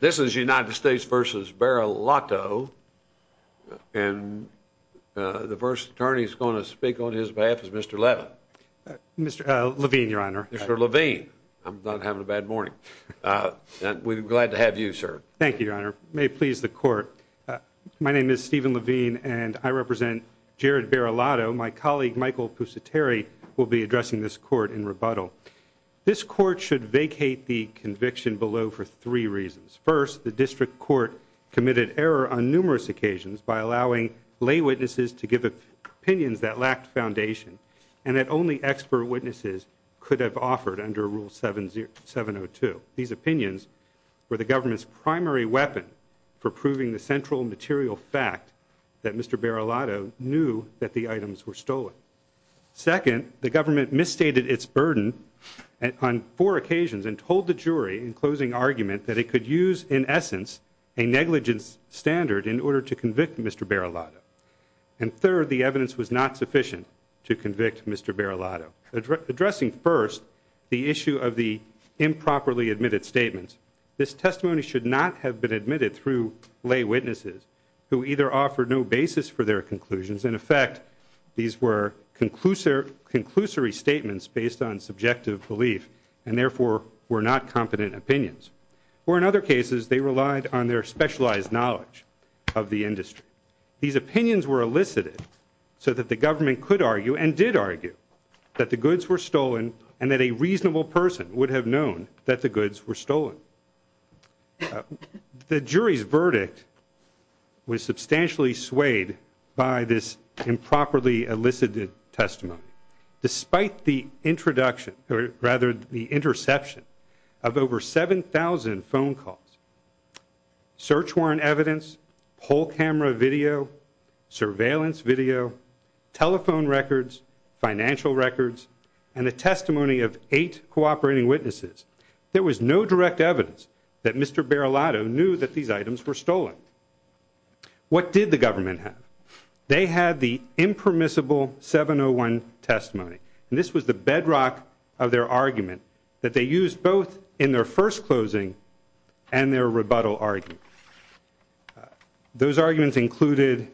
This is United States v. Baraloto, and the first attorney who's going to speak on his behalf is Mr. Levin. Mr. Levine, Your Honor. Mr. Levine. I'm not having a bad morning. We're glad to have you, sir. Thank you, Your Honor. May it please the Court. My name is Stephen Levine, and I represent Jared Baraloto. My colleague, Michael Pusateri, will be addressing this Court in rebuttal. This Court should vacate the conviction below for three reasons. First, the District Court committed error on numerous occasions by allowing lay witnesses to give opinions that lacked foundation and that only expert witnesses could have offered under Rule 702. These opinions were the government's primary weapon for proving the central material fact that Mr. Baraloto knew that the items were stolen. Second, the government misstated its burden on four occasions and told the jury in closing argument that it could use, in essence, a negligence standard in order to convict Mr. Baraloto. And third, the evidence was not sufficient to convict Mr. Baraloto. Addressing first the issue of the improperly admitted statements, this testimony should not have been admitted through lay witnesses who either offered no basis for their conclusions. In effect, these were conclusory statements based on subjective belief and therefore were not competent opinions. Or in other cases, they relied on their specialized knowledge of the industry. These opinions were elicited so that the government could argue and did argue that the goods were stolen and that a reasonable person would have known that the goods were stolen. The jury's verdict was substantially swayed by this improperly elicited testimony. Despite the introduction, or rather the interception, of over 7,000 phone calls, search warrant evidence, poll camera video, surveillance video, telephone records, financial records, and the testimony of eight cooperating witnesses, there was no direct evidence that Mr. Baraloto knew that these items were stolen. What did the government have? They had the impermissible 701 testimony, and this was the bedrock of their argument that they used both in their first closing and their rebuttal argument. Those arguments included,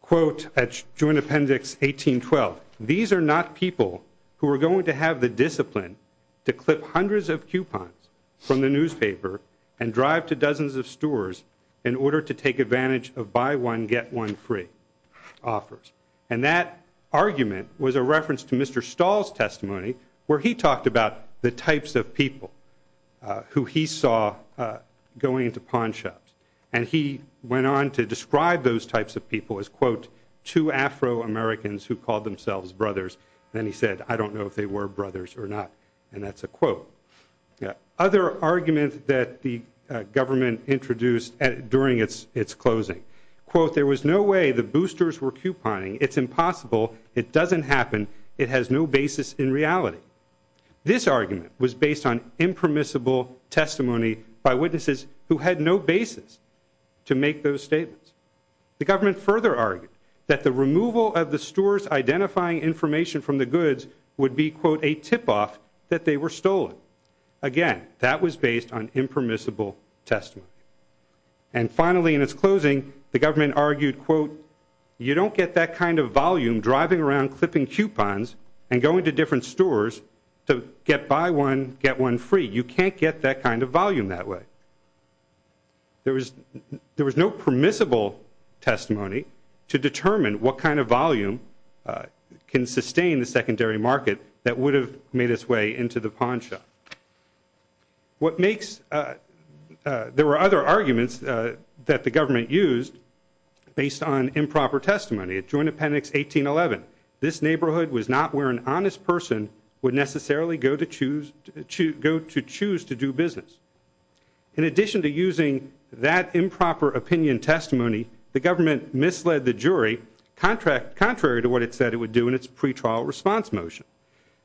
quote, at Joint Appendix 1812, these are not people who are going to have the discipline to clip hundreds of coupons from the newspaper and drive to dozens of stores in order to take advantage of buy one, get one free offers. And that argument was a reference to Mr. Stahl's testimony where he talked about the types of people who he saw going into pawn shops. And he went on to describe those types of people as, quote, two Afro-Americans who called themselves brothers. Then he said, I don't know if they were brothers or not, and that's a quote. Other arguments that the government introduced during its closing, quote, there was no way the boosters were couponing. It's impossible. It doesn't happen. It has no basis in reality. This argument was based on impermissible testimony by witnesses who had no basis to make those statements. The government further argued that the removal of the stores identifying information from the goods would be, quote, a tip-off that they were stolen. Again, that was based on impermissible testimony. And finally, in its closing, the government argued, quote, you don't get that kind of volume driving around clipping coupons and going to different stores to get buy one, get one free. You can't get that kind of volume that way. There was no permissible testimony to determine what kind of volume can sustain the secondary market that would have made its way into the pawn shop. There were other arguments that the government used based on improper testimony. At Joint Appendix 1811, this neighborhood was not where an honest person would necessarily go to choose to do business. In addition to using that improper opinion testimony, the government misled the jury, contrary to what it said it would do in its pretrial response motion.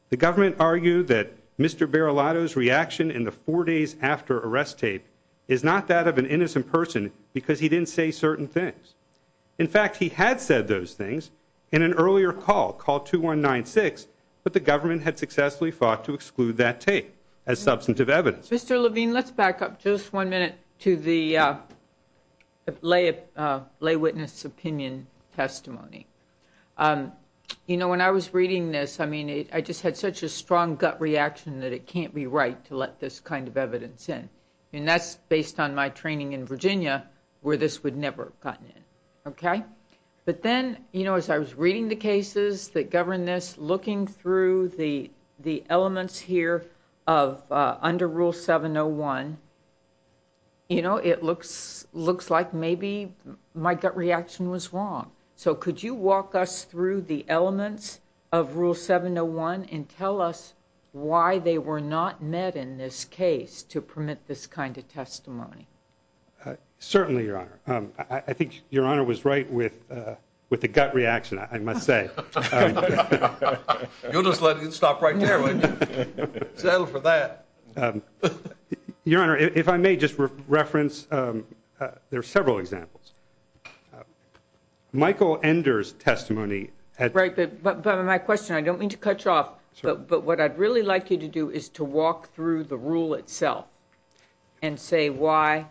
The government argued that Mr. Barilato's reaction in the four days after arrest tape is not that of an innocent person because he didn't say certain things. In fact, he had said those things in an earlier call, call 2196, but the government had successfully fought to exclude that tape as substantive evidence. Mr. Levine, let's back up just one minute to the lay witness opinion testimony. You know, when I was reading this, I mean, I just had such a strong gut reaction that it can't be right to let this kind of evidence in. And that's based on my training in Virginia where this would never have gotten in. Okay? But then, you know, as I was reading the cases that govern this, looking through the elements here of under Rule 701, you know, it looks like maybe my gut reaction was wrong. So could you walk us through the elements of Rule 701 and tell us why they were not met in this case to permit this kind of testimony? Certainly, Your Honor. I think Your Honor was right with the gut reaction, I must say. You'll just let it stop right there, won't you? Settle for that. Your Honor, if I may just reference, there are several examples. Michael Ender's testimony. Right, but my question, I don't mean to cut you off, but what I'd really like you to do is to walk through the rule itself and say why,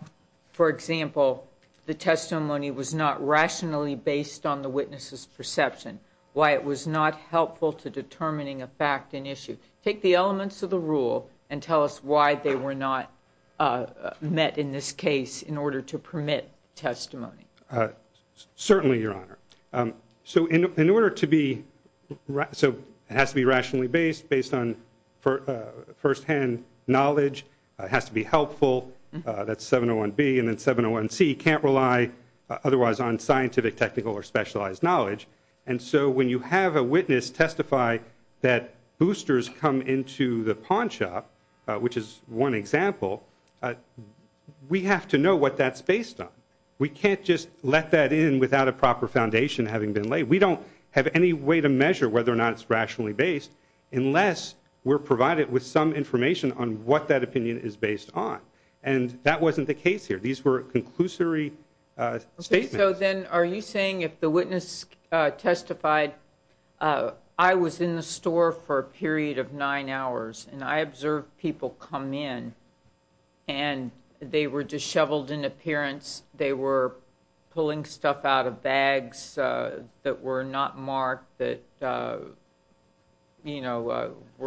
for example, the testimony was not rationally based on the witness's perception, why it was not helpful to determining a fact and issue. Take the elements of the rule and tell us why they were not met in this case in order to permit testimony. Certainly, Your Honor. So it has to be rationally based, based on firsthand knowledge. It has to be helpful. That's 701B. And then 701C can't rely otherwise on scientific, technical, or specialized knowledge. And so when you have a witness testify that boosters come into the pawn shop, which is one example, we have to know what that's based on. We can't just let that in without a proper foundation having been laid. We don't have any way to measure whether or not it's rationally based unless we're provided with some information on what that opinion is based on. And that wasn't the case here. These were conclusory statements. So then are you saying if the witness testified, I was in the store for a period of nine hours and I observed people come in and they were disheveled in appearance, they were pulling stuff out of bags that were not marked, that were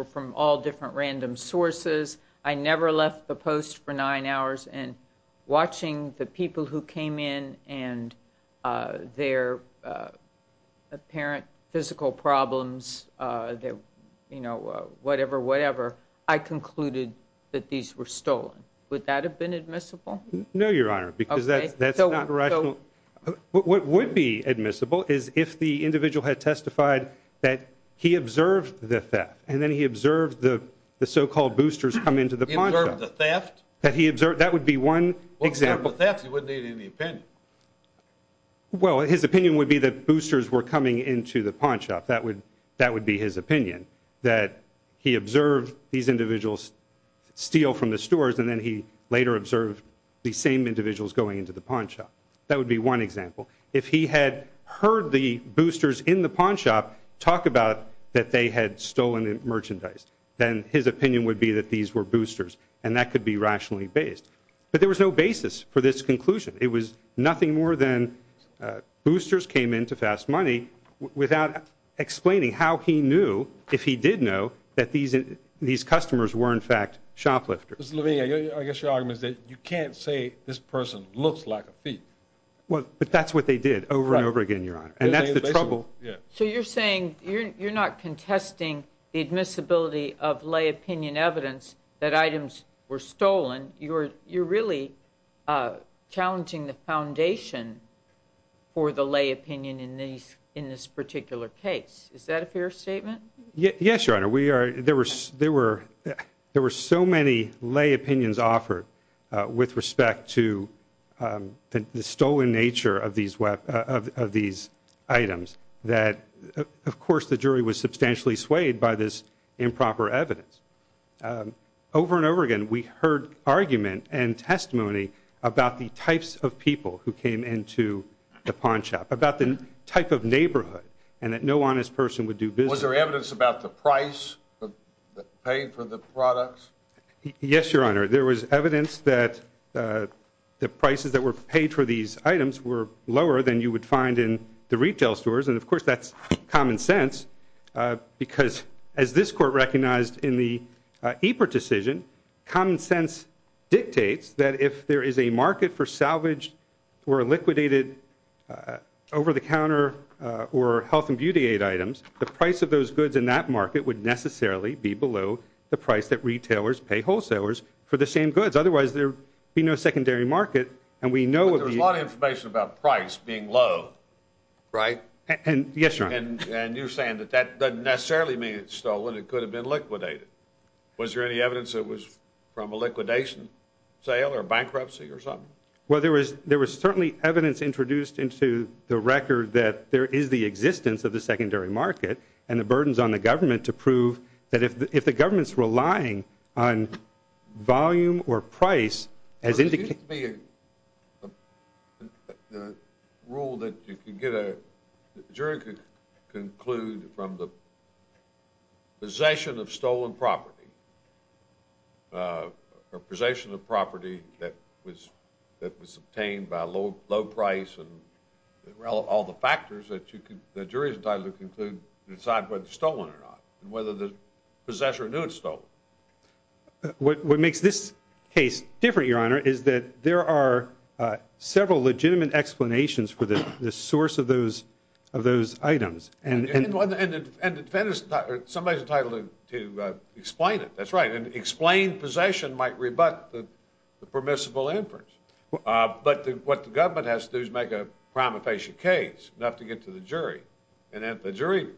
from all different random sources, I never left the post for nine hours, and watching the people who came in and their apparent physical problems, whatever, whatever, I concluded that these were stolen. Would that have been admissible? No, Your Honor, because that's not rational. What would be admissible is if the individual had testified that he observed the theft and then he observed the so-called boosters come into the pawn shop. He observed the theft? That would be one example. Well, if he observed the theft, he wouldn't need any opinion. Well, his opinion would be that boosters were coming into the pawn shop. That would be his opinion, that he observed these individuals steal from the stores and then he later observed these same individuals going into the pawn shop. That would be one example. If he had heard the boosters in the pawn shop talk about that they had stolen merchandise, then his opinion would be that these were boosters, and that could be rationally based. But there was no basis for this conclusion. It was nothing more than boosters came into Fast Money without explaining how he knew, if he did know, that these customers were, in fact, shoplifters. Mr. Levine, I guess your argument is that you can't say this person looks like a thief. But that's what they did over and over again, Your Honor, and that's the trouble. So you're saying you're not contesting the admissibility of lay opinion evidence that items were stolen. You're really challenging the foundation for the lay opinion in this particular case. Is that a fair statement? Yes, Your Honor. There were so many lay opinions offered with respect to the stolen nature of these items that, of course, the jury was substantially swayed by this improper evidence. Over and over again, we heard argument and testimony about the types of people who came into the pawn shop, about the type of neighborhood, and that no honest person would do business. Was there evidence about the price that paid for the products? Yes, Your Honor. There was evidence that the prices that were paid for these items were lower than you would find in the retail stores. And, of course, that's common sense because, as this court recognized in the EPRT decision, common sense dictates that if there is a market for salvaged or liquidated over-the-counter or health and beauty aid items, the price of those goods in that market would necessarily be below the price that retailers pay wholesalers for the same goods. Otherwise, there would be no secondary market. But there's a lot of information about price being low, right? Yes, Your Honor. And you're saying that that doesn't necessarily mean it's stolen. It could have been liquidated. Was there any evidence it was from a liquidation sale or bankruptcy or something? Well, there was certainly evidence introduced into the record that there is the existence of the secondary market and the burdens on the government to prove that if the government's relying on volume or price as indicated. There needs to be a rule that you can get a jury to conclude from the possession of stolen property or possession of property that was obtained by a low price and all the factors that the jury is entitled to conclude and decide whether it's stolen or not and whether the possessor knew it was stolen. What makes this case different, Your Honor, is that there are several legitimate explanations for the source of those items. And somebody's entitled to explain it. That's right. And explained possession might rebut the permissible inference. But what the government has to do is make a prima facie case enough to get to the jury. And if the jury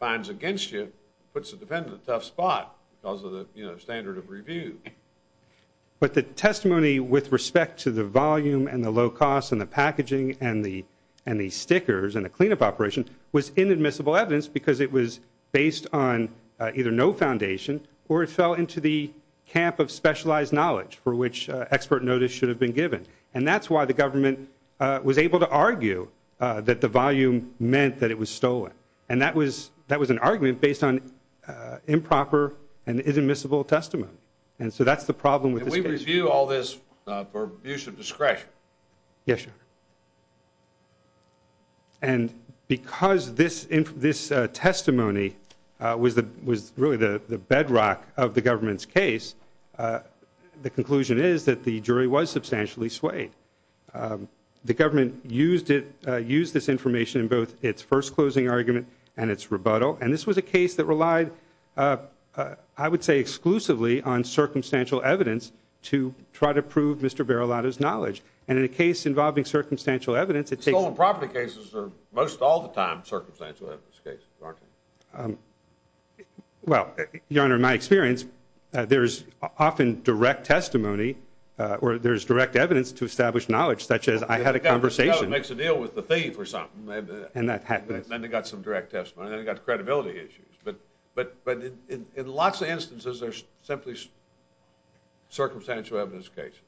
finds against you, puts the defendant in a tough spot because of the standard of review. But the testimony with respect to the volume and the low cost and the packaging and the stickers and the cleanup operation was inadmissible evidence because it was based on either no foundation or it fell into the camp of specialized knowledge for which expert notice should have been given. And that's why the government was able to argue that the volume meant that it was stolen. And that was an argument based on improper and inadmissible testimony. And so that's the problem with this case. Can we review all this for abuse of discretion? Yes, Your Honor. And because this testimony was really the bedrock of the government's case, the conclusion is that the jury was substantially swayed. The government used this information in both its first closing argument and its rebuttal. And this was a case that relied, I would say, exclusively on circumstantial evidence to try to prove Mr. Barilato's knowledge. And in a case involving circumstantial evidence, it takes- Stolen property cases are most all the time circumstantial evidence cases, aren't they? Well, Your Honor, in my experience, there's often direct testimony or there's direct evidence to establish knowledge, such as I had a conversation- It probably makes a deal with the thief or something. And that happens. Then they've got some direct testimony. Then they've got credibility issues. But in lots of instances, they're simply circumstantial evidence cases.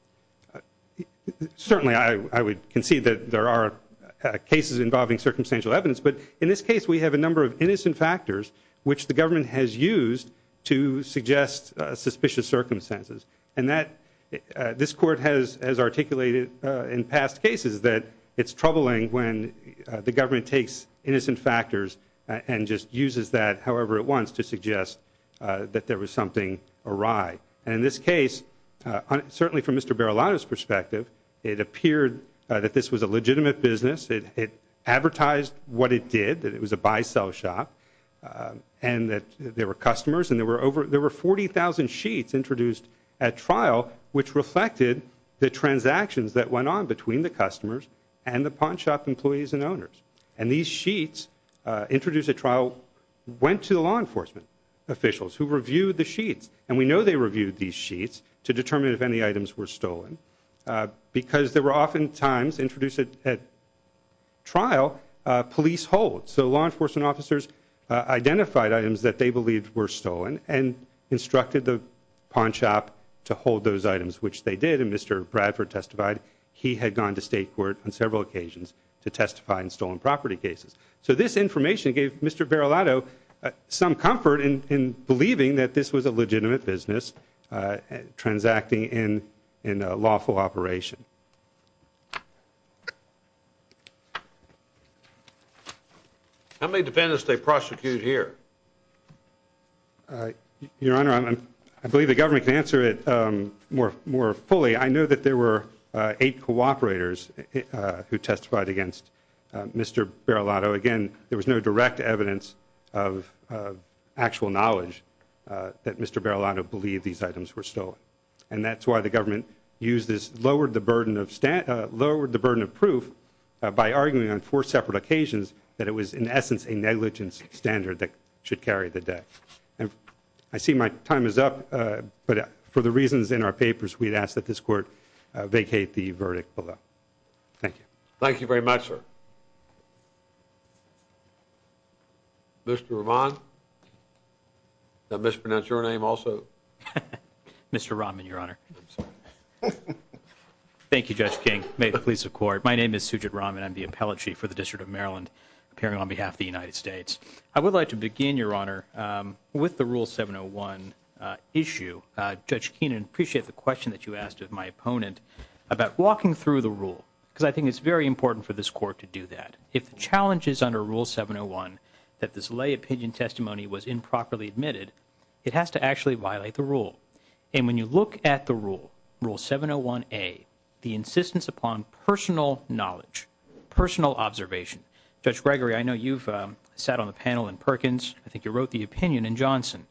Certainly, I would concede that there are cases involving circumstantial evidence. But in this case, we have a number of innocent factors, which the government has used to suggest suspicious circumstances. And this Court has articulated in past cases that it's troubling when the government takes innocent factors and just uses that however it wants to suggest that there was something awry. And in this case, certainly from Mr. Barilato's perspective, it appeared that this was a legitimate business. It advertised what it did, that it was a buy-sell shop and that there were customers. And there were 40,000 sheets introduced at trial, which reflected the transactions that went on between the customers and the pawn shop employees and owners. And these sheets introduced at trial went to the law enforcement officials who reviewed the sheets. And we know they reviewed these sheets to determine if any items were stolen because there were oftentimes introduced at trial police holds. So law enforcement officers identified items that they believed were stolen and instructed the pawn shop to hold those items, which they did. And Mr. Bradford testified he had gone to state court on several occasions to testify in stolen property cases. So this information gave Mr. Barilato some comfort in believing that this was a legitimate business transacting in a lawful operation. How many defendants did they prosecute here? Your Honor, I believe the government can answer it more fully. I know that there were eight cooperators who testified against Mr. Barilato. So, again, there was no direct evidence of actual knowledge that Mr. Barilato believed these items were stolen. And that's why the government lowered the burden of proof by arguing on four separate occasions that it was, in essence, a negligence standard that should carry the debt. I see my time is up, but for the reasons in our papers, we'd ask that this Court vacate the verdict below. Thank you. Thank you very much, sir. Mr. Rahman? Did I mispronounce your name also? Mr. Rahman, Your Honor. Thank you, Judge King. May it please the Court. My name is Sujit Rahman. I'm the appellate chief for the District of Maryland, appearing on behalf of the United States. I would like to begin, Your Honor, with the Rule 701 issue. Judge Keenan, I appreciate the question that you asked of my opponent about walking through the rule, because I think it's very important for this Court to do that. If the challenge is under Rule 701, that this lay opinion testimony was improperly admitted, it has to actually violate the rule. And when you look at the rule, Rule 701A, the insistence upon personal knowledge, personal observation. Judge Gregory, I know you've sat on the panel in Perkins. I think you wrote the opinion in Johnson.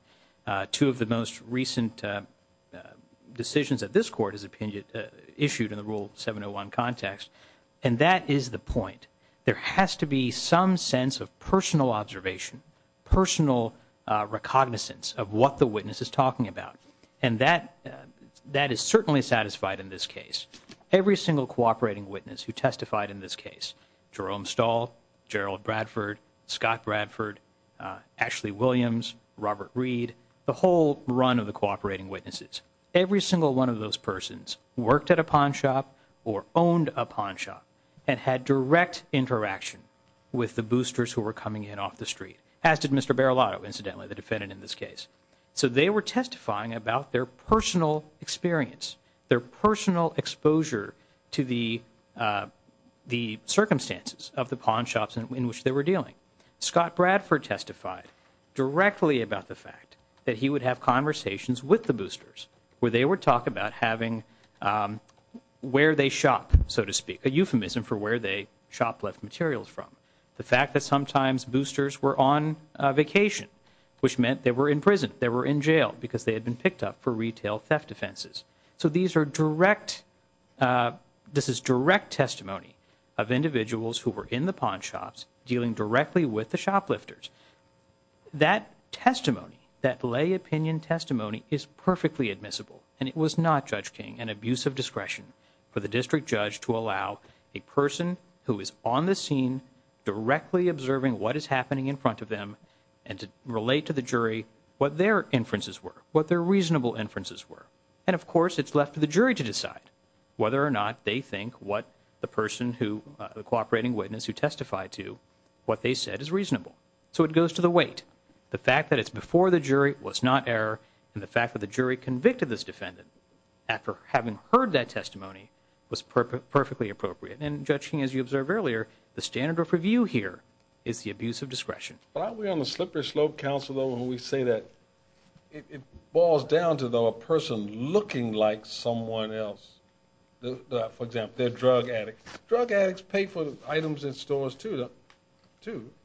Two of the most recent decisions that this Court has issued in the Rule 701 context. And that is the point. There has to be some sense of personal observation, personal recognizance of what the witness is talking about. And that is certainly satisfied in this case. Every single cooperating witness who testified in this case, Jerome Stahl, Gerald Bradford, Scott Bradford, Ashley Williams, Robert Reed, the whole run of the cooperating witnesses, every single one of those persons worked at a pawn shop or owned a pawn shop and had direct interaction with the boosters who were coming in off the street, as did Mr. Barilotto, incidentally, the defendant in this case. So they were testifying about their personal experience, their personal exposure to the circumstances of the pawn shops in which they were dealing. Scott Bradford testified directly about the fact that he would have conversations with the boosters where they would talk about having where they shop, so to speak, a euphemism for where they shop left materials from. The fact that sometimes boosters were on vacation, which meant they were in prison, they were in jail because they had been picked up for retail theft offenses. So these are direct, this is direct testimony of individuals who were in the pawn shops dealing directly with the shoplifters. That testimony, that lay opinion testimony is perfectly admissible, and it was not, Judge King, an abuse of discretion for the district judge to allow a person who is on the scene directly observing what is happening in front of them and to relate to the jury what their inferences were, what their reasonable inferences were. And, of course, it's left to the jury to decide whether or not they think what the person who, the cooperating witness who testified to, what they said is reasonable. So it goes to the weight. The fact that it's before the jury was not error, and the fact that the jury convicted this defendant after having heard that testimony was perfectly appropriate. And, Judge King, as you observed earlier, the standard of review here is the abuse of discretion. Why are we on the slippery slope, counsel, though, when we say that it boils down to, though, a person looking like someone else? For example, they're drug addicts. Drug addicts pay for items in stores, too,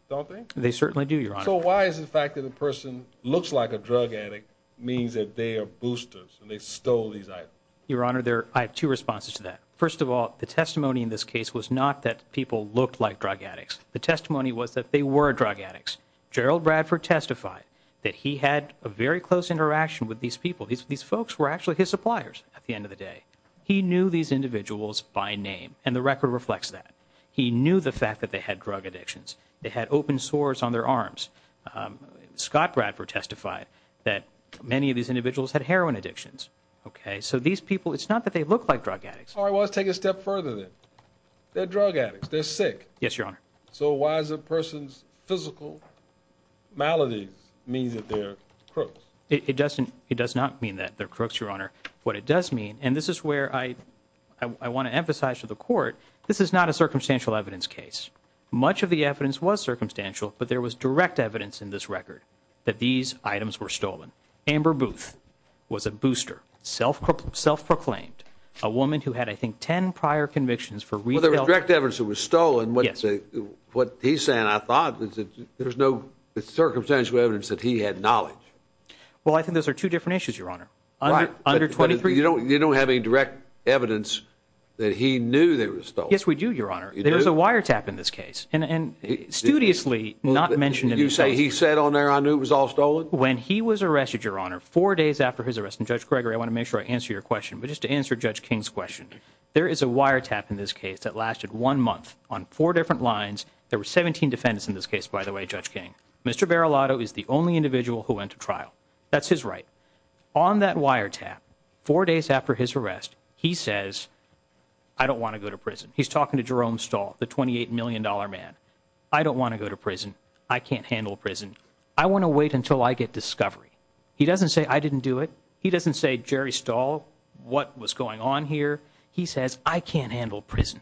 don't they? They certainly do, Your Honor. So why is the fact that a person looks like a drug addict means that they are boosters and they stole these items? Your Honor, I have two responses to that. First of all, the testimony in this case was not that people looked like drug addicts. The testimony was that they were drug addicts. Gerald Bradford testified that he had a very close interaction with these people. These folks were actually his suppliers at the end of the day. He knew these individuals by name, and the record reflects that. He knew the fact that they had drug addictions. They had open sores on their arms. Scott Bradford testified that many of these individuals had heroin addictions. So these people, it's not that they look like drug addicts. All right, well, let's take it a step further, then. They're drug addicts. They're sick. Yes, Your Honor. So why does a person's physical maladies mean that they're crooks? It does not mean that they're crooks, Your Honor. What it does mean, and this is where I want to emphasize to the Court, this is not a circumstantial evidence case. Much of the evidence was circumstantial, but there was direct evidence in this record that these items were stolen. Amber Booth was a booster, self-proclaimed, a woman who had, I think, ten prior convictions for re-delivery. So there was direct evidence that was stolen. What he's saying, I thought, is that there's no circumstantial evidence that he had knowledge. Well, I think those are two different issues, Your Honor. Right. Under 23 years. You don't have any direct evidence that he knew they were stolen. Yes, we do, Your Honor. There is a wiretap in this case. And studiously, not mentioned in these cases. You say he said on there, I knew it was all stolen? When he was arrested, Your Honor, four days after his arrest, and Judge Gregory, I want to make sure I answer your question, but just to answer Judge King's question, there is a wiretap in this case that lasted one month on four different lines. There were 17 defendants in this case, by the way, Judge King. Mr. Verilato is the only individual who went to trial. That's his right. On that wiretap, four days after his arrest, he says, I don't want to go to prison. He's talking to Jerome Stahl, the $28 million man. I don't want to go to prison. I can't handle prison. I want to wait until I get discovery. He doesn't say, I didn't do it. He doesn't say, Jerry Stahl, what was going on here. He says, I can't handle prison.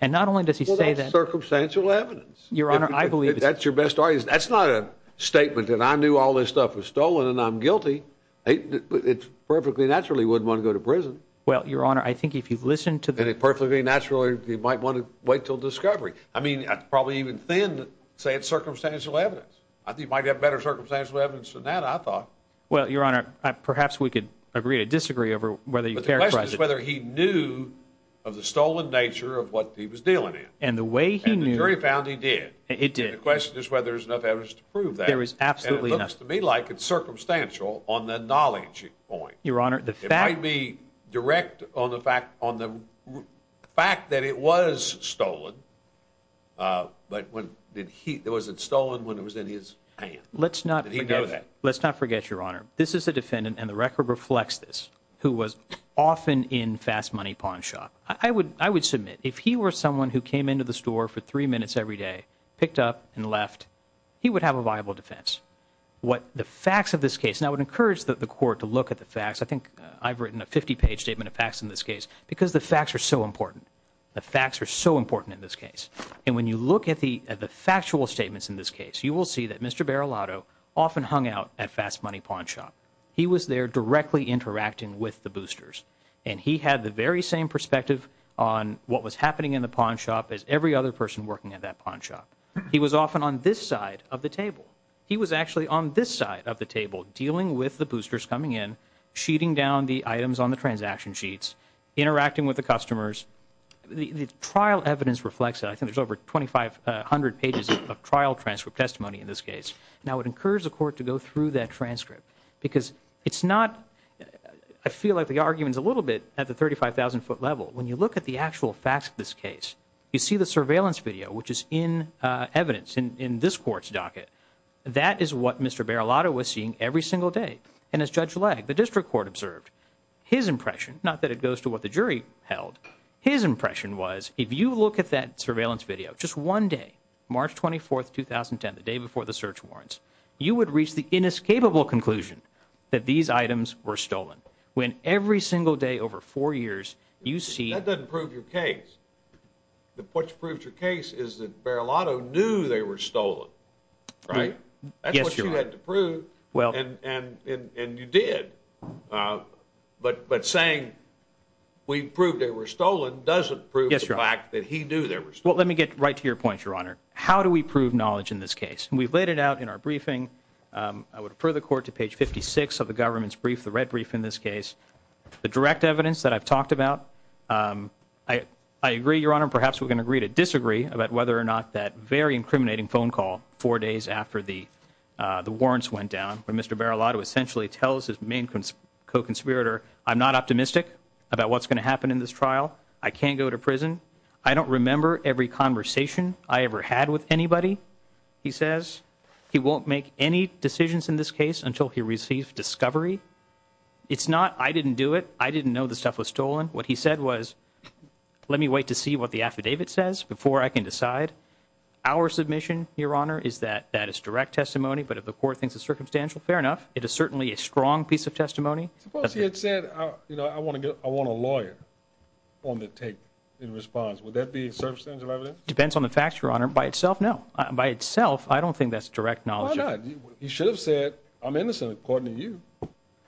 And not only does he say that. Well, that's circumstantial evidence. Your Honor, I believe. That's your best argument. That's not a statement that I knew all this stuff was stolen and I'm guilty. It's perfectly natural he wouldn't want to go to prison. Well, Your Honor, I think if you listen to the. And it's perfectly natural he might want to wait until discovery. I mean, it's probably even thin to say it's circumstantial evidence. He might have better circumstantial evidence than that, I thought. Well, Your Honor, perhaps we could agree to disagree over whether. But the question is whether he knew of the stolen nature of what he was dealing in. And the way he knew. And the jury found he did. It did. The question is whether there's enough evidence to prove that. There is absolutely enough. And it looks to me like it's circumstantial on the knowledge point. Your Honor, the fact. It might be direct on the fact that it was stolen, but was it stolen when it was in his hand? Let's not forget that. Yes, Your Honor. This is a defendant, and the record reflects this, who was often in Fast Money Pawn Shop. I would submit if he were someone who came into the store for three minutes every day, picked up, and left, he would have a viable defense. What the facts of this case. And I would encourage the court to look at the facts. I think I've written a 50-page statement of facts in this case because the facts are so important. The facts are so important in this case. And when you look at the factual statements in this case, you will see that Mr. Barilato often hung out at Fast Money Pawn Shop. He was there directly interacting with the boosters. And he had the very same perspective on what was happening in the pawn shop as every other person working at that pawn shop. He was often on this side of the table. He was actually on this side of the table dealing with the boosters coming in, sheeting down the items on the transaction sheets, interacting with the customers. The trial evidence reflects that. I think there's over 2,500 pages of trial transcript testimony in this case. Now, I would encourage the court to go through that transcript because it's not – I feel like the argument is a little bit at the 35,000-foot level. When you look at the actual facts of this case, you see the surveillance video, which is in evidence in this court's docket. That is what Mr. Barilato was seeing every single day. And as Judge Legge, the district court, observed, his impression – not that it goes to what the jury held – his impression was if you look at that surveillance video, just one day, March 24, 2010, the day before the search warrants, you would reach the inescapable conclusion that these items were stolen. When every single day over four years, you see – That doesn't prove your case. What proves your case is that Barilato knew they were stolen, right? Yes, Your Honor. That's what you had to prove. Well – And you did. But saying we proved they were stolen doesn't prove the fact that he knew they were stolen. Well, let me get right to your point, Your Honor. How do we prove knowledge in this case? We've laid it out in our briefing. I would refer the court to page 56 of the government's brief, the red brief in this case. The direct evidence that I've talked about, I agree, Your Honor. But Mr. Barilato essentially tells his main co-conspirator, I'm not optimistic about what's going to happen in this trial. I can't go to prison. I don't remember every conversation I ever had with anybody, he says. He won't make any decisions in this case until he receives discovery. It's not, I didn't do it. I didn't know the stuff was stolen. What he said was, let me wait to see what the affidavit says before I can decide. Our submission, Your Honor, is that that is direct testimony. But if the court thinks it's circumstantial, fair enough. It is certainly a strong piece of testimony. Suppose he had said, you know, I want a lawyer on the tape in response. Would that be circumstantial evidence? Depends on the facts, Your Honor. By itself, no. By itself, I don't think that's direct knowledge. Why not? He should have said, I'm innocent according to you.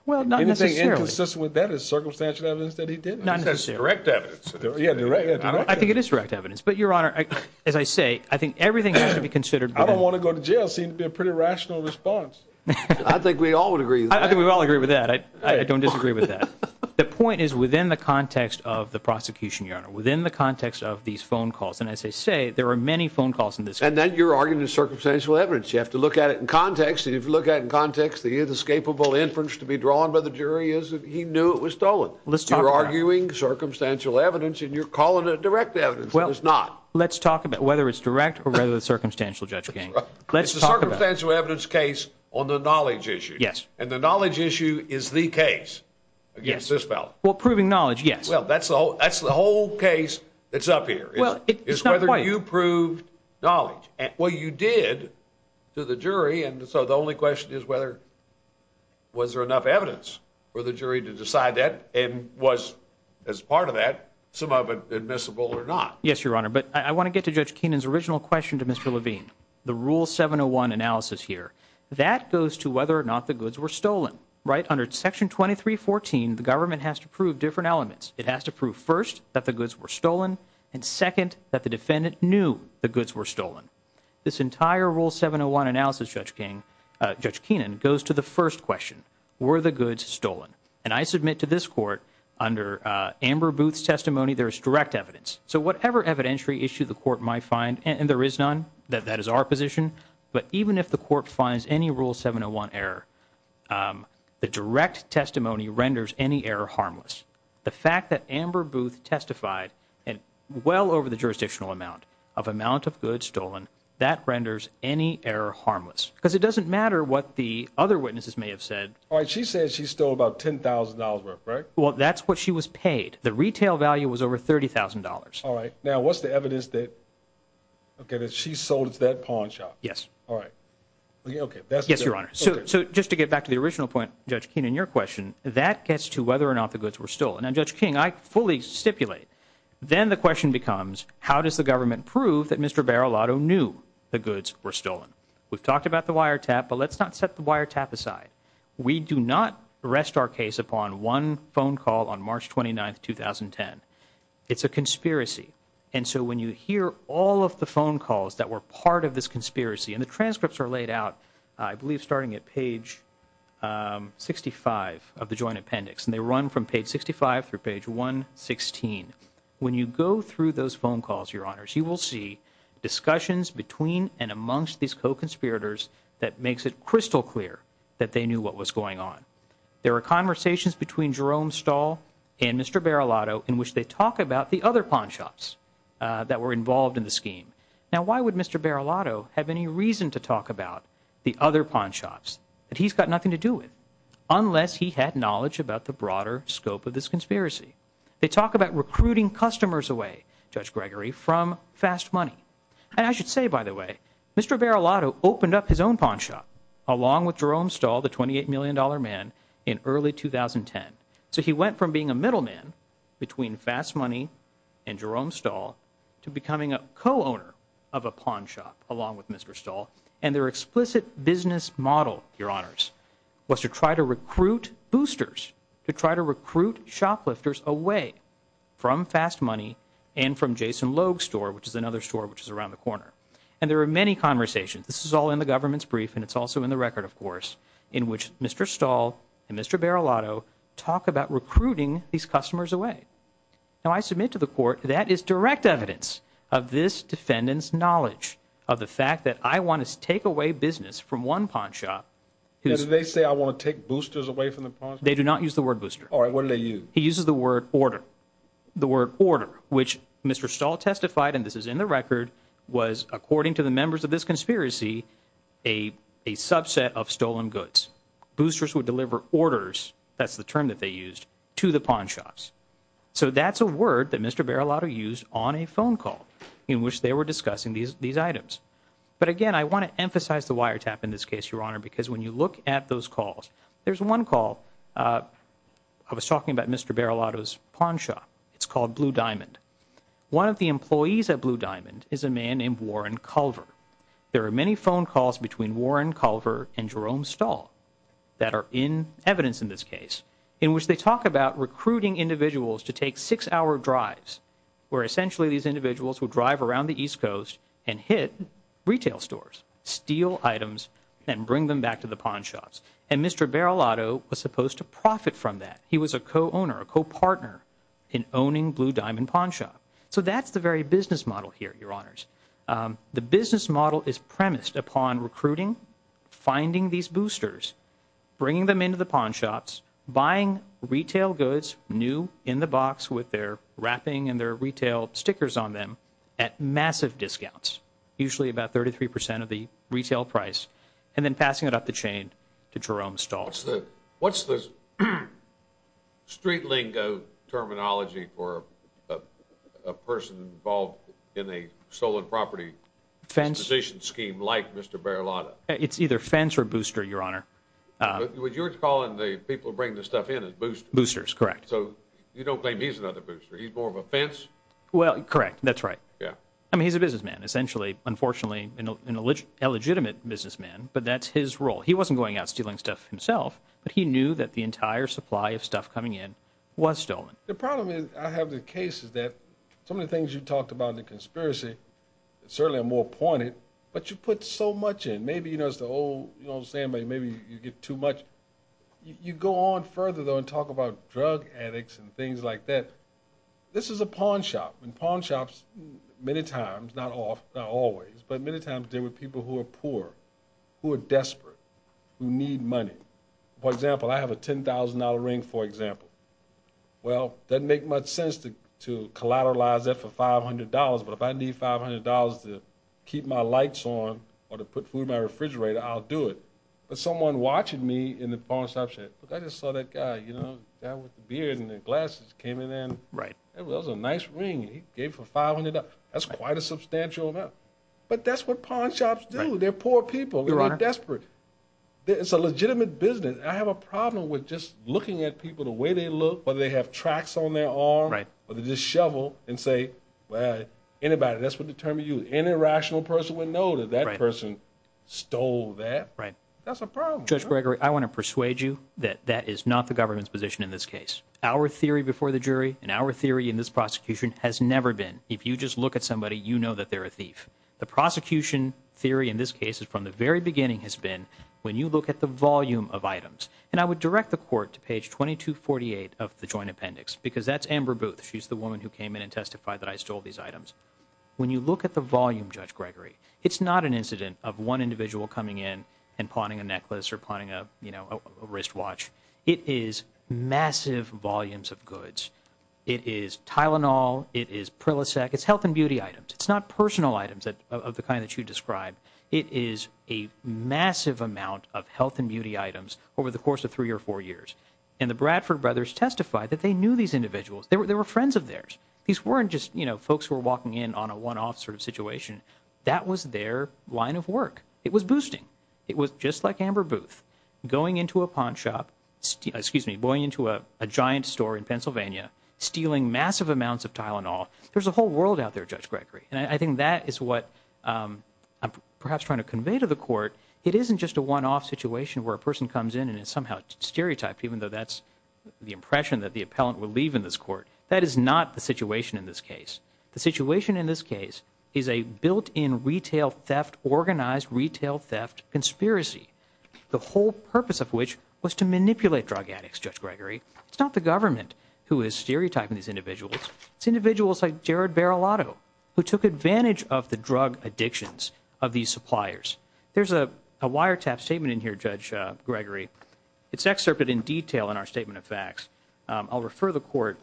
Well, not necessarily. Anything inconsistent with that is circumstantial evidence that he did. Not necessarily. That's direct evidence. Yeah, direct. I think it is direct evidence. But, Your Honor, as I say, I think everything has to be considered. I don't want to go to jail. Seemed to be a pretty rational response. I think we all would agree. I think we all agree with that. I don't disagree with that. The point is within the context of the prosecution, Your Honor. Within the context of these phone calls. And as I say, there are many phone calls in this case. And then you're arguing it's circumstantial evidence. You have to look at it in context. And if you look at it in context, the inescapable inference to be drawn by the jury is that he knew it was stolen. Let's talk about that. You're arguing circumstantial evidence and you're calling it direct evidence. It is not. Let's talk about whether it's direct or whether it's circumstantial, Judge King. Let's talk about it. It's a circumstantial evidence case on the knowledge issue. Yes. And the knowledge issue is the case against this fellow. Well, proving knowledge, yes. Well, that's the whole case that's up here. Well, it's not quite. It's whether you proved knowledge. Well, you did to the jury. And so the only question is whether was there enough evidence for the jury to decide that and was, as part of that, some of it admissible or not. Yes, Your Honor. But I want to get to Judge Keenan's original question to Mr. Levine, the Rule 701 analysis here. That goes to whether or not the goods were stolen, right? Under Section 2314, the government has to prove different elements. It has to prove, first, that the goods were stolen and, second, that the defendant knew the goods were stolen. This entire Rule 701 analysis, Judge Keenan, goes to the first question, were the goods stolen? And I submit to this court, under Amber Booth's testimony, there is direct evidence. So whatever evidentiary issue the court might find, and there is none, that is our position, but even if the court finds any Rule 701 error, the direct testimony renders any error harmless. The fact that Amber Booth testified well over the jurisdictional amount of amount of goods stolen, that renders any error harmless. Because it doesn't matter what the other witnesses may have said. All right, she said she stole about $10,000 worth, right? Well, that's what she was paid. The retail value was over $30,000. All right. Now, what's the evidence that she sold at that pawn shop? Yes. All right. Yes, Your Honor. So just to get back to the original point, Judge Keenan, your question, that gets to whether or not the goods were stolen. Now, Judge King, I fully stipulate. Then the question becomes, how does the government prove that Mr. Barilotto knew the goods were stolen? We've talked about the wiretap, but let's not set the wiretap aside. We do not rest our case upon one phone call on March 29, 2010. It's a conspiracy. And so when you hear all of the phone calls that were part of this conspiracy, and the transcripts are laid out I believe starting at page 65 of the joint appendix, and they run from page 65 through page 116. When you go through those phone calls, Your Honors, you will see discussions between and amongst these co-conspirators that makes it crystal clear that they knew what was going on. There were conversations between Jerome Stahl and Mr. Barilotto in which they talk about the other pawn shops that were involved in the scheme. Now, why would Mr. Barilotto have any reason to talk about the other pawn shops that he's got nothing to do with, unless he had knowledge about the broader scope of this conspiracy? They talk about recruiting customers away, Judge Gregory, from Fast Money. And I should say, by the way, Mr. Barilotto opened up his own pawn shop, along with Jerome Stahl, the $28 million man, in early 2010. So he went from being a middleman between Fast Money and Jerome Stahl to becoming a co-owner of a pawn shop along with Mr. Stahl. And their explicit business model, Your Honors, was to try to recruit boosters, to try to recruit shoplifters away from Fast Money and from Jason Logue's store, which is another store which is around the corner. And there were many conversations. This is all in the government's brief, and it's also in the record, of course, in which Mr. Stahl and Mr. Barilotto talk about recruiting these customers away. Now, I submit to the Court that is direct evidence of this defendant's knowledge of the fact that I want to take away business from one pawn shop. Did they say, I want to take boosters away from the pawn shop? They do not use the word booster. All right, what do they use? He uses the word order. The word order, which Mr. Stahl testified, and this is in the record, was, according to the members of this conspiracy, a subset of stolen goods. Boosters would deliver orders, that's the term that they used, to the pawn shops. So that's a word that Mr. Barilotto used on a phone call in which they were discussing these items. But, again, I want to emphasize the wiretap in this case, Your Honor, because when you look at those calls, there's one call. I was talking about Mr. Barilotto's pawn shop. It's called Blue Diamond. One of the employees at Blue Diamond is a man named Warren Culver. There are many phone calls between Warren Culver and Jerome Stahl that are in evidence in this case, in which they talk about recruiting individuals to take six-hour drives, where essentially these individuals would drive around the East Coast and hit retail stores, steal items, and bring them back to the pawn shops. And Mr. Barilotto was supposed to profit from that. He was a co-owner, a co-partner in owning Blue Diamond Pawn Shop. So that's the very business model here, Your Honors. The business model is premised upon recruiting, finding these boosters, bringing them into the pawn shops, buying retail goods, new, in the box with their wrapping and their retail stickers on them, at massive discounts, usually about 33 percent of the retail price, and then passing it up the chain to Jerome Stahl. What's the street lingo terminology for a person involved in a stolen property acquisition scheme like Mr. Barilotto? It's either fence or booster, Your Honor. What you're calling the people who bring the stuff in is boosters? Boosters, correct. So you don't claim he's another booster? He's more of a fence? Well, correct. That's right. I mean, he's a businessman, essentially, unfortunately, an illegitimate businessman, but that's his role. He wasn't going out stealing stuff himself, but he knew that the entire supply of stuff coming in was stolen. The problem is I have the cases that some of the things you talked about in the conspiracy, certainly are more pointed, but you put so much in. Maybe, you know, it's the old saying, maybe you get too much. You go on further, though, and talk about drug addicts and things like that. This is a pawn shop, and pawn shops, many times, not always, but many times there were people who were poor, who were desperate, who need money. For example, I have a $10,000 ring, for example. Well, it doesn't make much sense to collateralize that for $500, but if I need $500 to keep my lights on or to put food in my refrigerator, I'll do it. But someone watching me in the pawn shop said, look, I just saw that guy, you know, the guy with the beard and the glasses came in. That was a nice ring he gave for $500. That's quite a substantial amount. But that's what pawn shops do. They're poor people who are desperate. It's a legitimate business. I have a problem with just looking at people the way they look, whether they have tracks on their arm, whether they just shovel and say, well, anybody, that's what determines you. Any rational person would know that that person stole that. That's a problem. Judge Gregory, I want to persuade you that that is not the government's position in this case. Our theory before the jury and our theory in this prosecution has never been if you just look at somebody, you know that they're a thief. The prosecution theory in this case is from the very beginning has been when you look at the volume of items. And I would direct the court to page 2248 of the joint appendix, because that's Amber Booth. She's the woman who came in and testified that I stole these items. When you look at the volume, Judge Gregory, it's not an incident of one individual coming in and pawning a necklace or pawning a wristwatch. It is massive volumes of goods. It is Tylenol. It is Prilosec. It's health and beauty items. It's not personal items of the kind that you described. It is a massive amount of health and beauty items over the course of three or four years. And the Bradford brothers testified that they knew these individuals. They were friends of theirs. These weren't just, you know, folks who were walking in on a one-off sort of situation. That was their line of work. It was boosting. It was just like Amber Booth going into a pawn shop, excuse me, going into a giant store in Pennsylvania, stealing massive amounts of Tylenol. There's a whole world out there, Judge Gregory. And I think that is what I'm perhaps trying to convey to the court. It isn't just a one-off situation where a person comes in and is somehow stereotyped, even though that's the impression that the appellant will leave in this court. That is not the situation in this case. The situation in this case is a built-in retail theft, organized retail theft conspiracy, the whole purpose of which was to manipulate drug addicts, Judge Gregory. It's not the government who is stereotyping these individuals. It's individuals like Jared Barilotto who took advantage of the drug addictions of these suppliers. There's a wiretap statement in here, Judge Gregory. I'll refer the court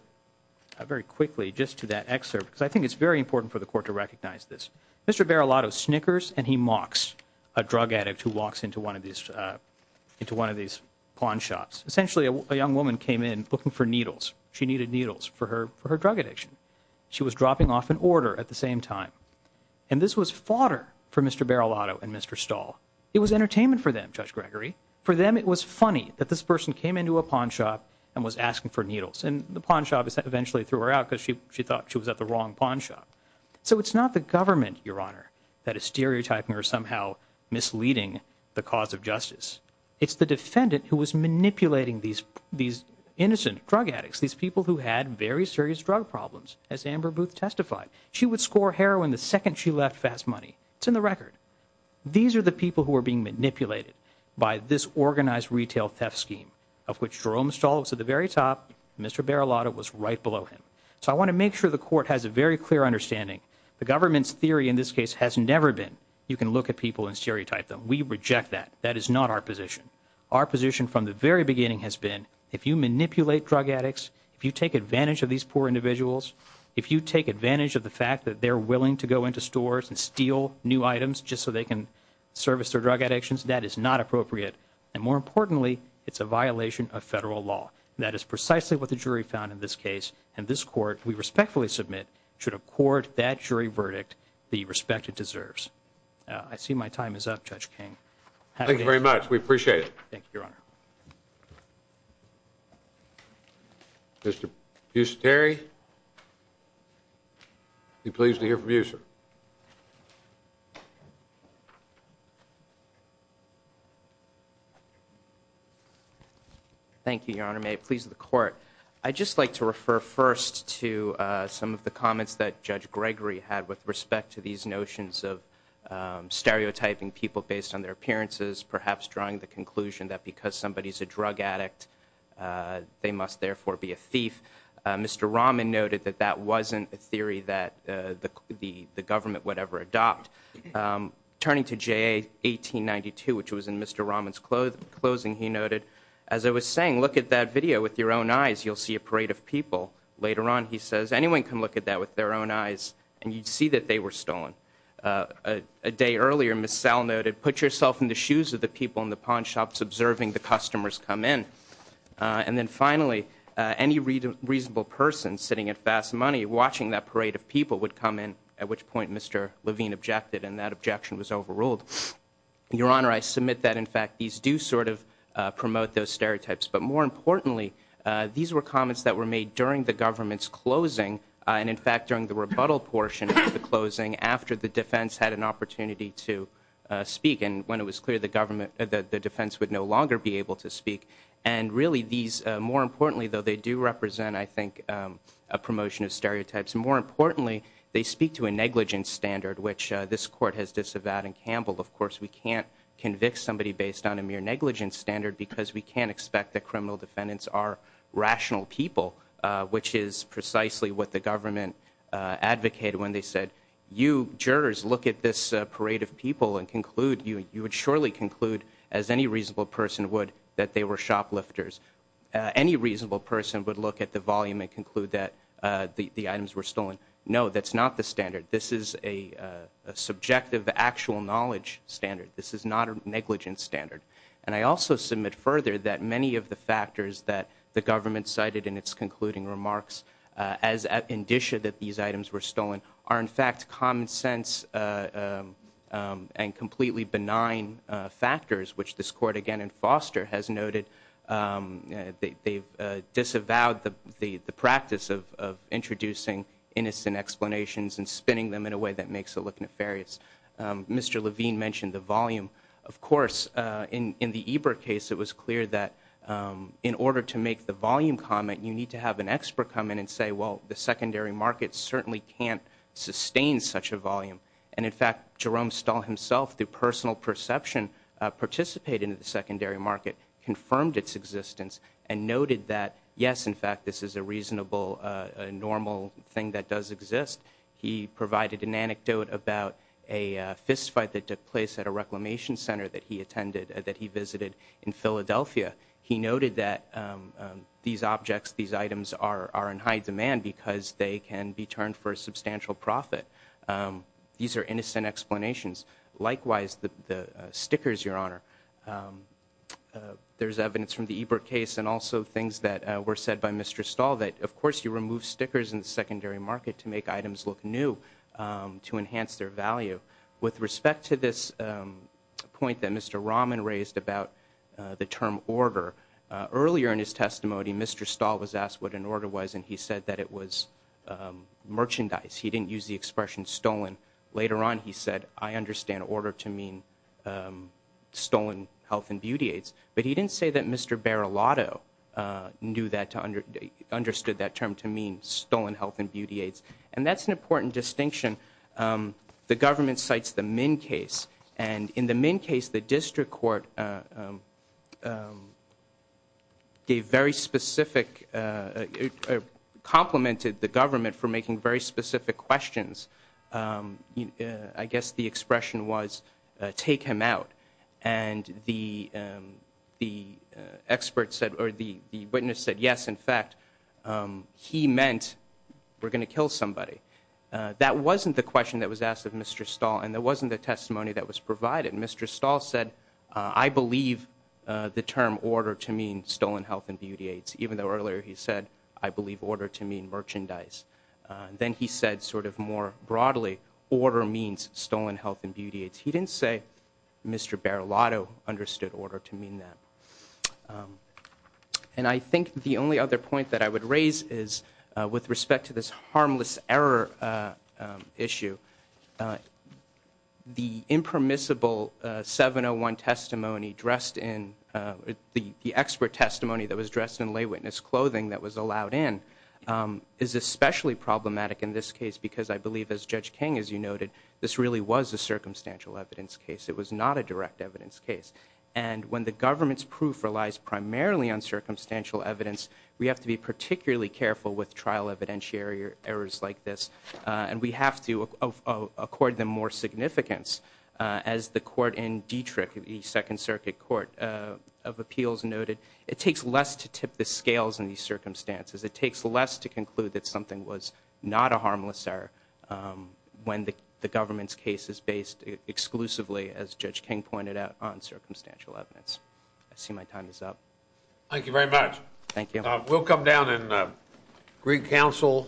very quickly just to that excerpt because I think it's very important for the court to recognize this. Mr. Barilotto snickers and he mocks a drug addict who walks into one of these pawn shops. Essentially, a young woman came in looking for needles. She needed needles for her drug addiction. She was dropping off an order at the same time. And this was fodder for Mr. Barilotto and Mr. Stahl. It was entertainment for them, Judge Gregory. For them, it was funny that this person came into a pawn shop and was asking for needles. And the pawn shop eventually threw her out because she thought she was at the wrong pawn shop. So it's not the government, Your Honor, that is stereotyping or somehow misleading the cause of justice. It's the defendant who was manipulating these innocent drug addicts, these people who had very serious drug problems, as Amber Booth testified. She would score heroin the second she left Fast Money. It's in the record. These are the people who are being manipulated by this organized retail theft scheme of which Jerome Stahl was at the very top and Mr. Barilotto was right below him. So I want to make sure the court has a very clear understanding. The government's theory in this case has never been you can look at people and stereotype them. We reject that. That is not our position. Our position from the very beginning has been if you manipulate drug addicts, if you take advantage of these poor individuals, if you take advantage of the fact that they're willing to go into stores and steal new items just so they can service their drug addictions, that is not appropriate. And more importantly, it's a violation of federal law. That is precisely what the jury found in this case. And this court, we respectfully submit, should accord that jury verdict the respect it deserves. I see my time is up, Judge King. We appreciate it. Thank you, Your Honor. Mr. Busateri, we're pleased to hear from you, sir. Thank you, Your Honor. May it please the court. I'd just like to refer first to some of the comments that Judge Gregory had with respect to these notions of stereotyping people based on their appearances, perhaps drawing the conclusion that because somebody's a drug addict, they must therefore be a thief. Mr. Rahman noted that that wasn't a theory that the government would ever adopt. Turning to JA 1892, which was in Mr. Rahman's closing, he noted, as I was saying, look at that video with your own eyes. You'll see a parade of people. Later on, he says, anyone can look at that with their own eyes, and you'd see that they were stolen. A day earlier, Ms. Sal noted, put yourself in the shoes of the people in the pawn shops observing the customers come in. And then finally, any reasonable person sitting at Fast Money watching that parade of people would come in, at which point Mr. Levine objected, and that objection was overruled. Your Honor, I submit that, in fact, these do sort of promote those stereotypes. But more importantly, these were comments that were made during the government's closing, and, in fact, during the rebuttal portion of the closing after the defense had an opportunity to speak, and when it was clear the defense would no longer be able to speak. And really these, more importantly, though, they do represent, I think, a promotion of stereotypes. More importantly, they speak to a negligence standard, which this Court has disavowed in Campbell. Of course, we can't convict somebody based on a mere negligence standard because we can't expect that criminal defendants are rational people, which is precisely what the government advocated when they said, you jurors look at this parade of people and conclude, you would surely conclude, as any reasonable person would, that they were shoplifters. Any reasonable person would look at the volume and conclude that the items were stolen. No, that's not the standard. This is a subjective, actual knowledge standard. This is not a negligence standard. And I also submit further that many of the factors that the government cited in its concluding remarks as an indicia that these items were stolen are, in fact, common sense and completely benign factors, which this Court, again, in Foster has noted they've disavowed the practice of introducing innocent explanations and spinning them in a way that makes it look nefarious. Mr. Levine mentioned the volume. Of course, in the Eber case, it was clear that in order to make the volume comment, you need to have an expert come in and say, well, the secondary market certainly can't sustain such a volume. And, in fact, Jerome Stahl himself, through personal perception, participated in the secondary market, confirmed its existence, and noted that, yes, in fact, this is a reasonable, normal thing that does exist. He provided an anecdote about a fist fight that took place at a reclamation center that he attended, that he visited in Philadelphia. He noted that these objects, these items are in high demand because they can be turned for a substantial profit. These are innocent explanations. Likewise, the stickers, Your Honor, there's evidence from the Eber case and also things that were said by Mr. Stahl that, of course, you remove stickers in the secondary market to make items look new, to enhance their value. With respect to this point that Mr. Rahman raised about the term order, earlier in his testimony, Mr. Stahl was asked what an order was, and he said that it was merchandise. He didn't use the expression stolen. Later on, he said, I understand order to mean stolen health and beauty aids. But he didn't say that Mr. Barilotto understood that term to mean stolen health and beauty aids. And that's an important distinction. The government cites the Minn case, and in the Minn case, the district court gave very specific, complimented the government for making very specific questions. I guess the expression was, take him out. And the witness said, yes, in fact, he meant we're going to kill somebody. That wasn't the question that was asked of Mr. Stahl, and that wasn't the testimony that was provided. Mr. Stahl said, I believe the term order to mean stolen health and beauty aids, even though earlier he said, I believe order to mean merchandise. Then he said sort of more broadly, order means stolen health and beauty aids. He didn't say Mr. Barilotto understood order to mean that. And I think the only other point that I would raise is with respect to this harmless error issue, the impermissible 701 testimony dressed in, the expert testimony that was dressed in lay witness clothing that was allowed in, is especially problematic in this case because I believe, as Judge King, as you noted, this really was a circumstantial evidence case. It was not a direct evidence case. And when the government's proof relies primarily on circumstantial evidence, we have to be particularly careful with trial evidentiary errors like this, and we have to accord them more significance. As the court in Dietrich, the Second Circuit Court of Appeals noted, it takes less to tip the scales in these circumstances. It takes less to conclude that something was not a harmless error when the government's case is based exclusively, as Judge King pointed out, on circumstantial evidence. I see my time is up. Thank you very much. Thank you. We'll come down and greet counsel.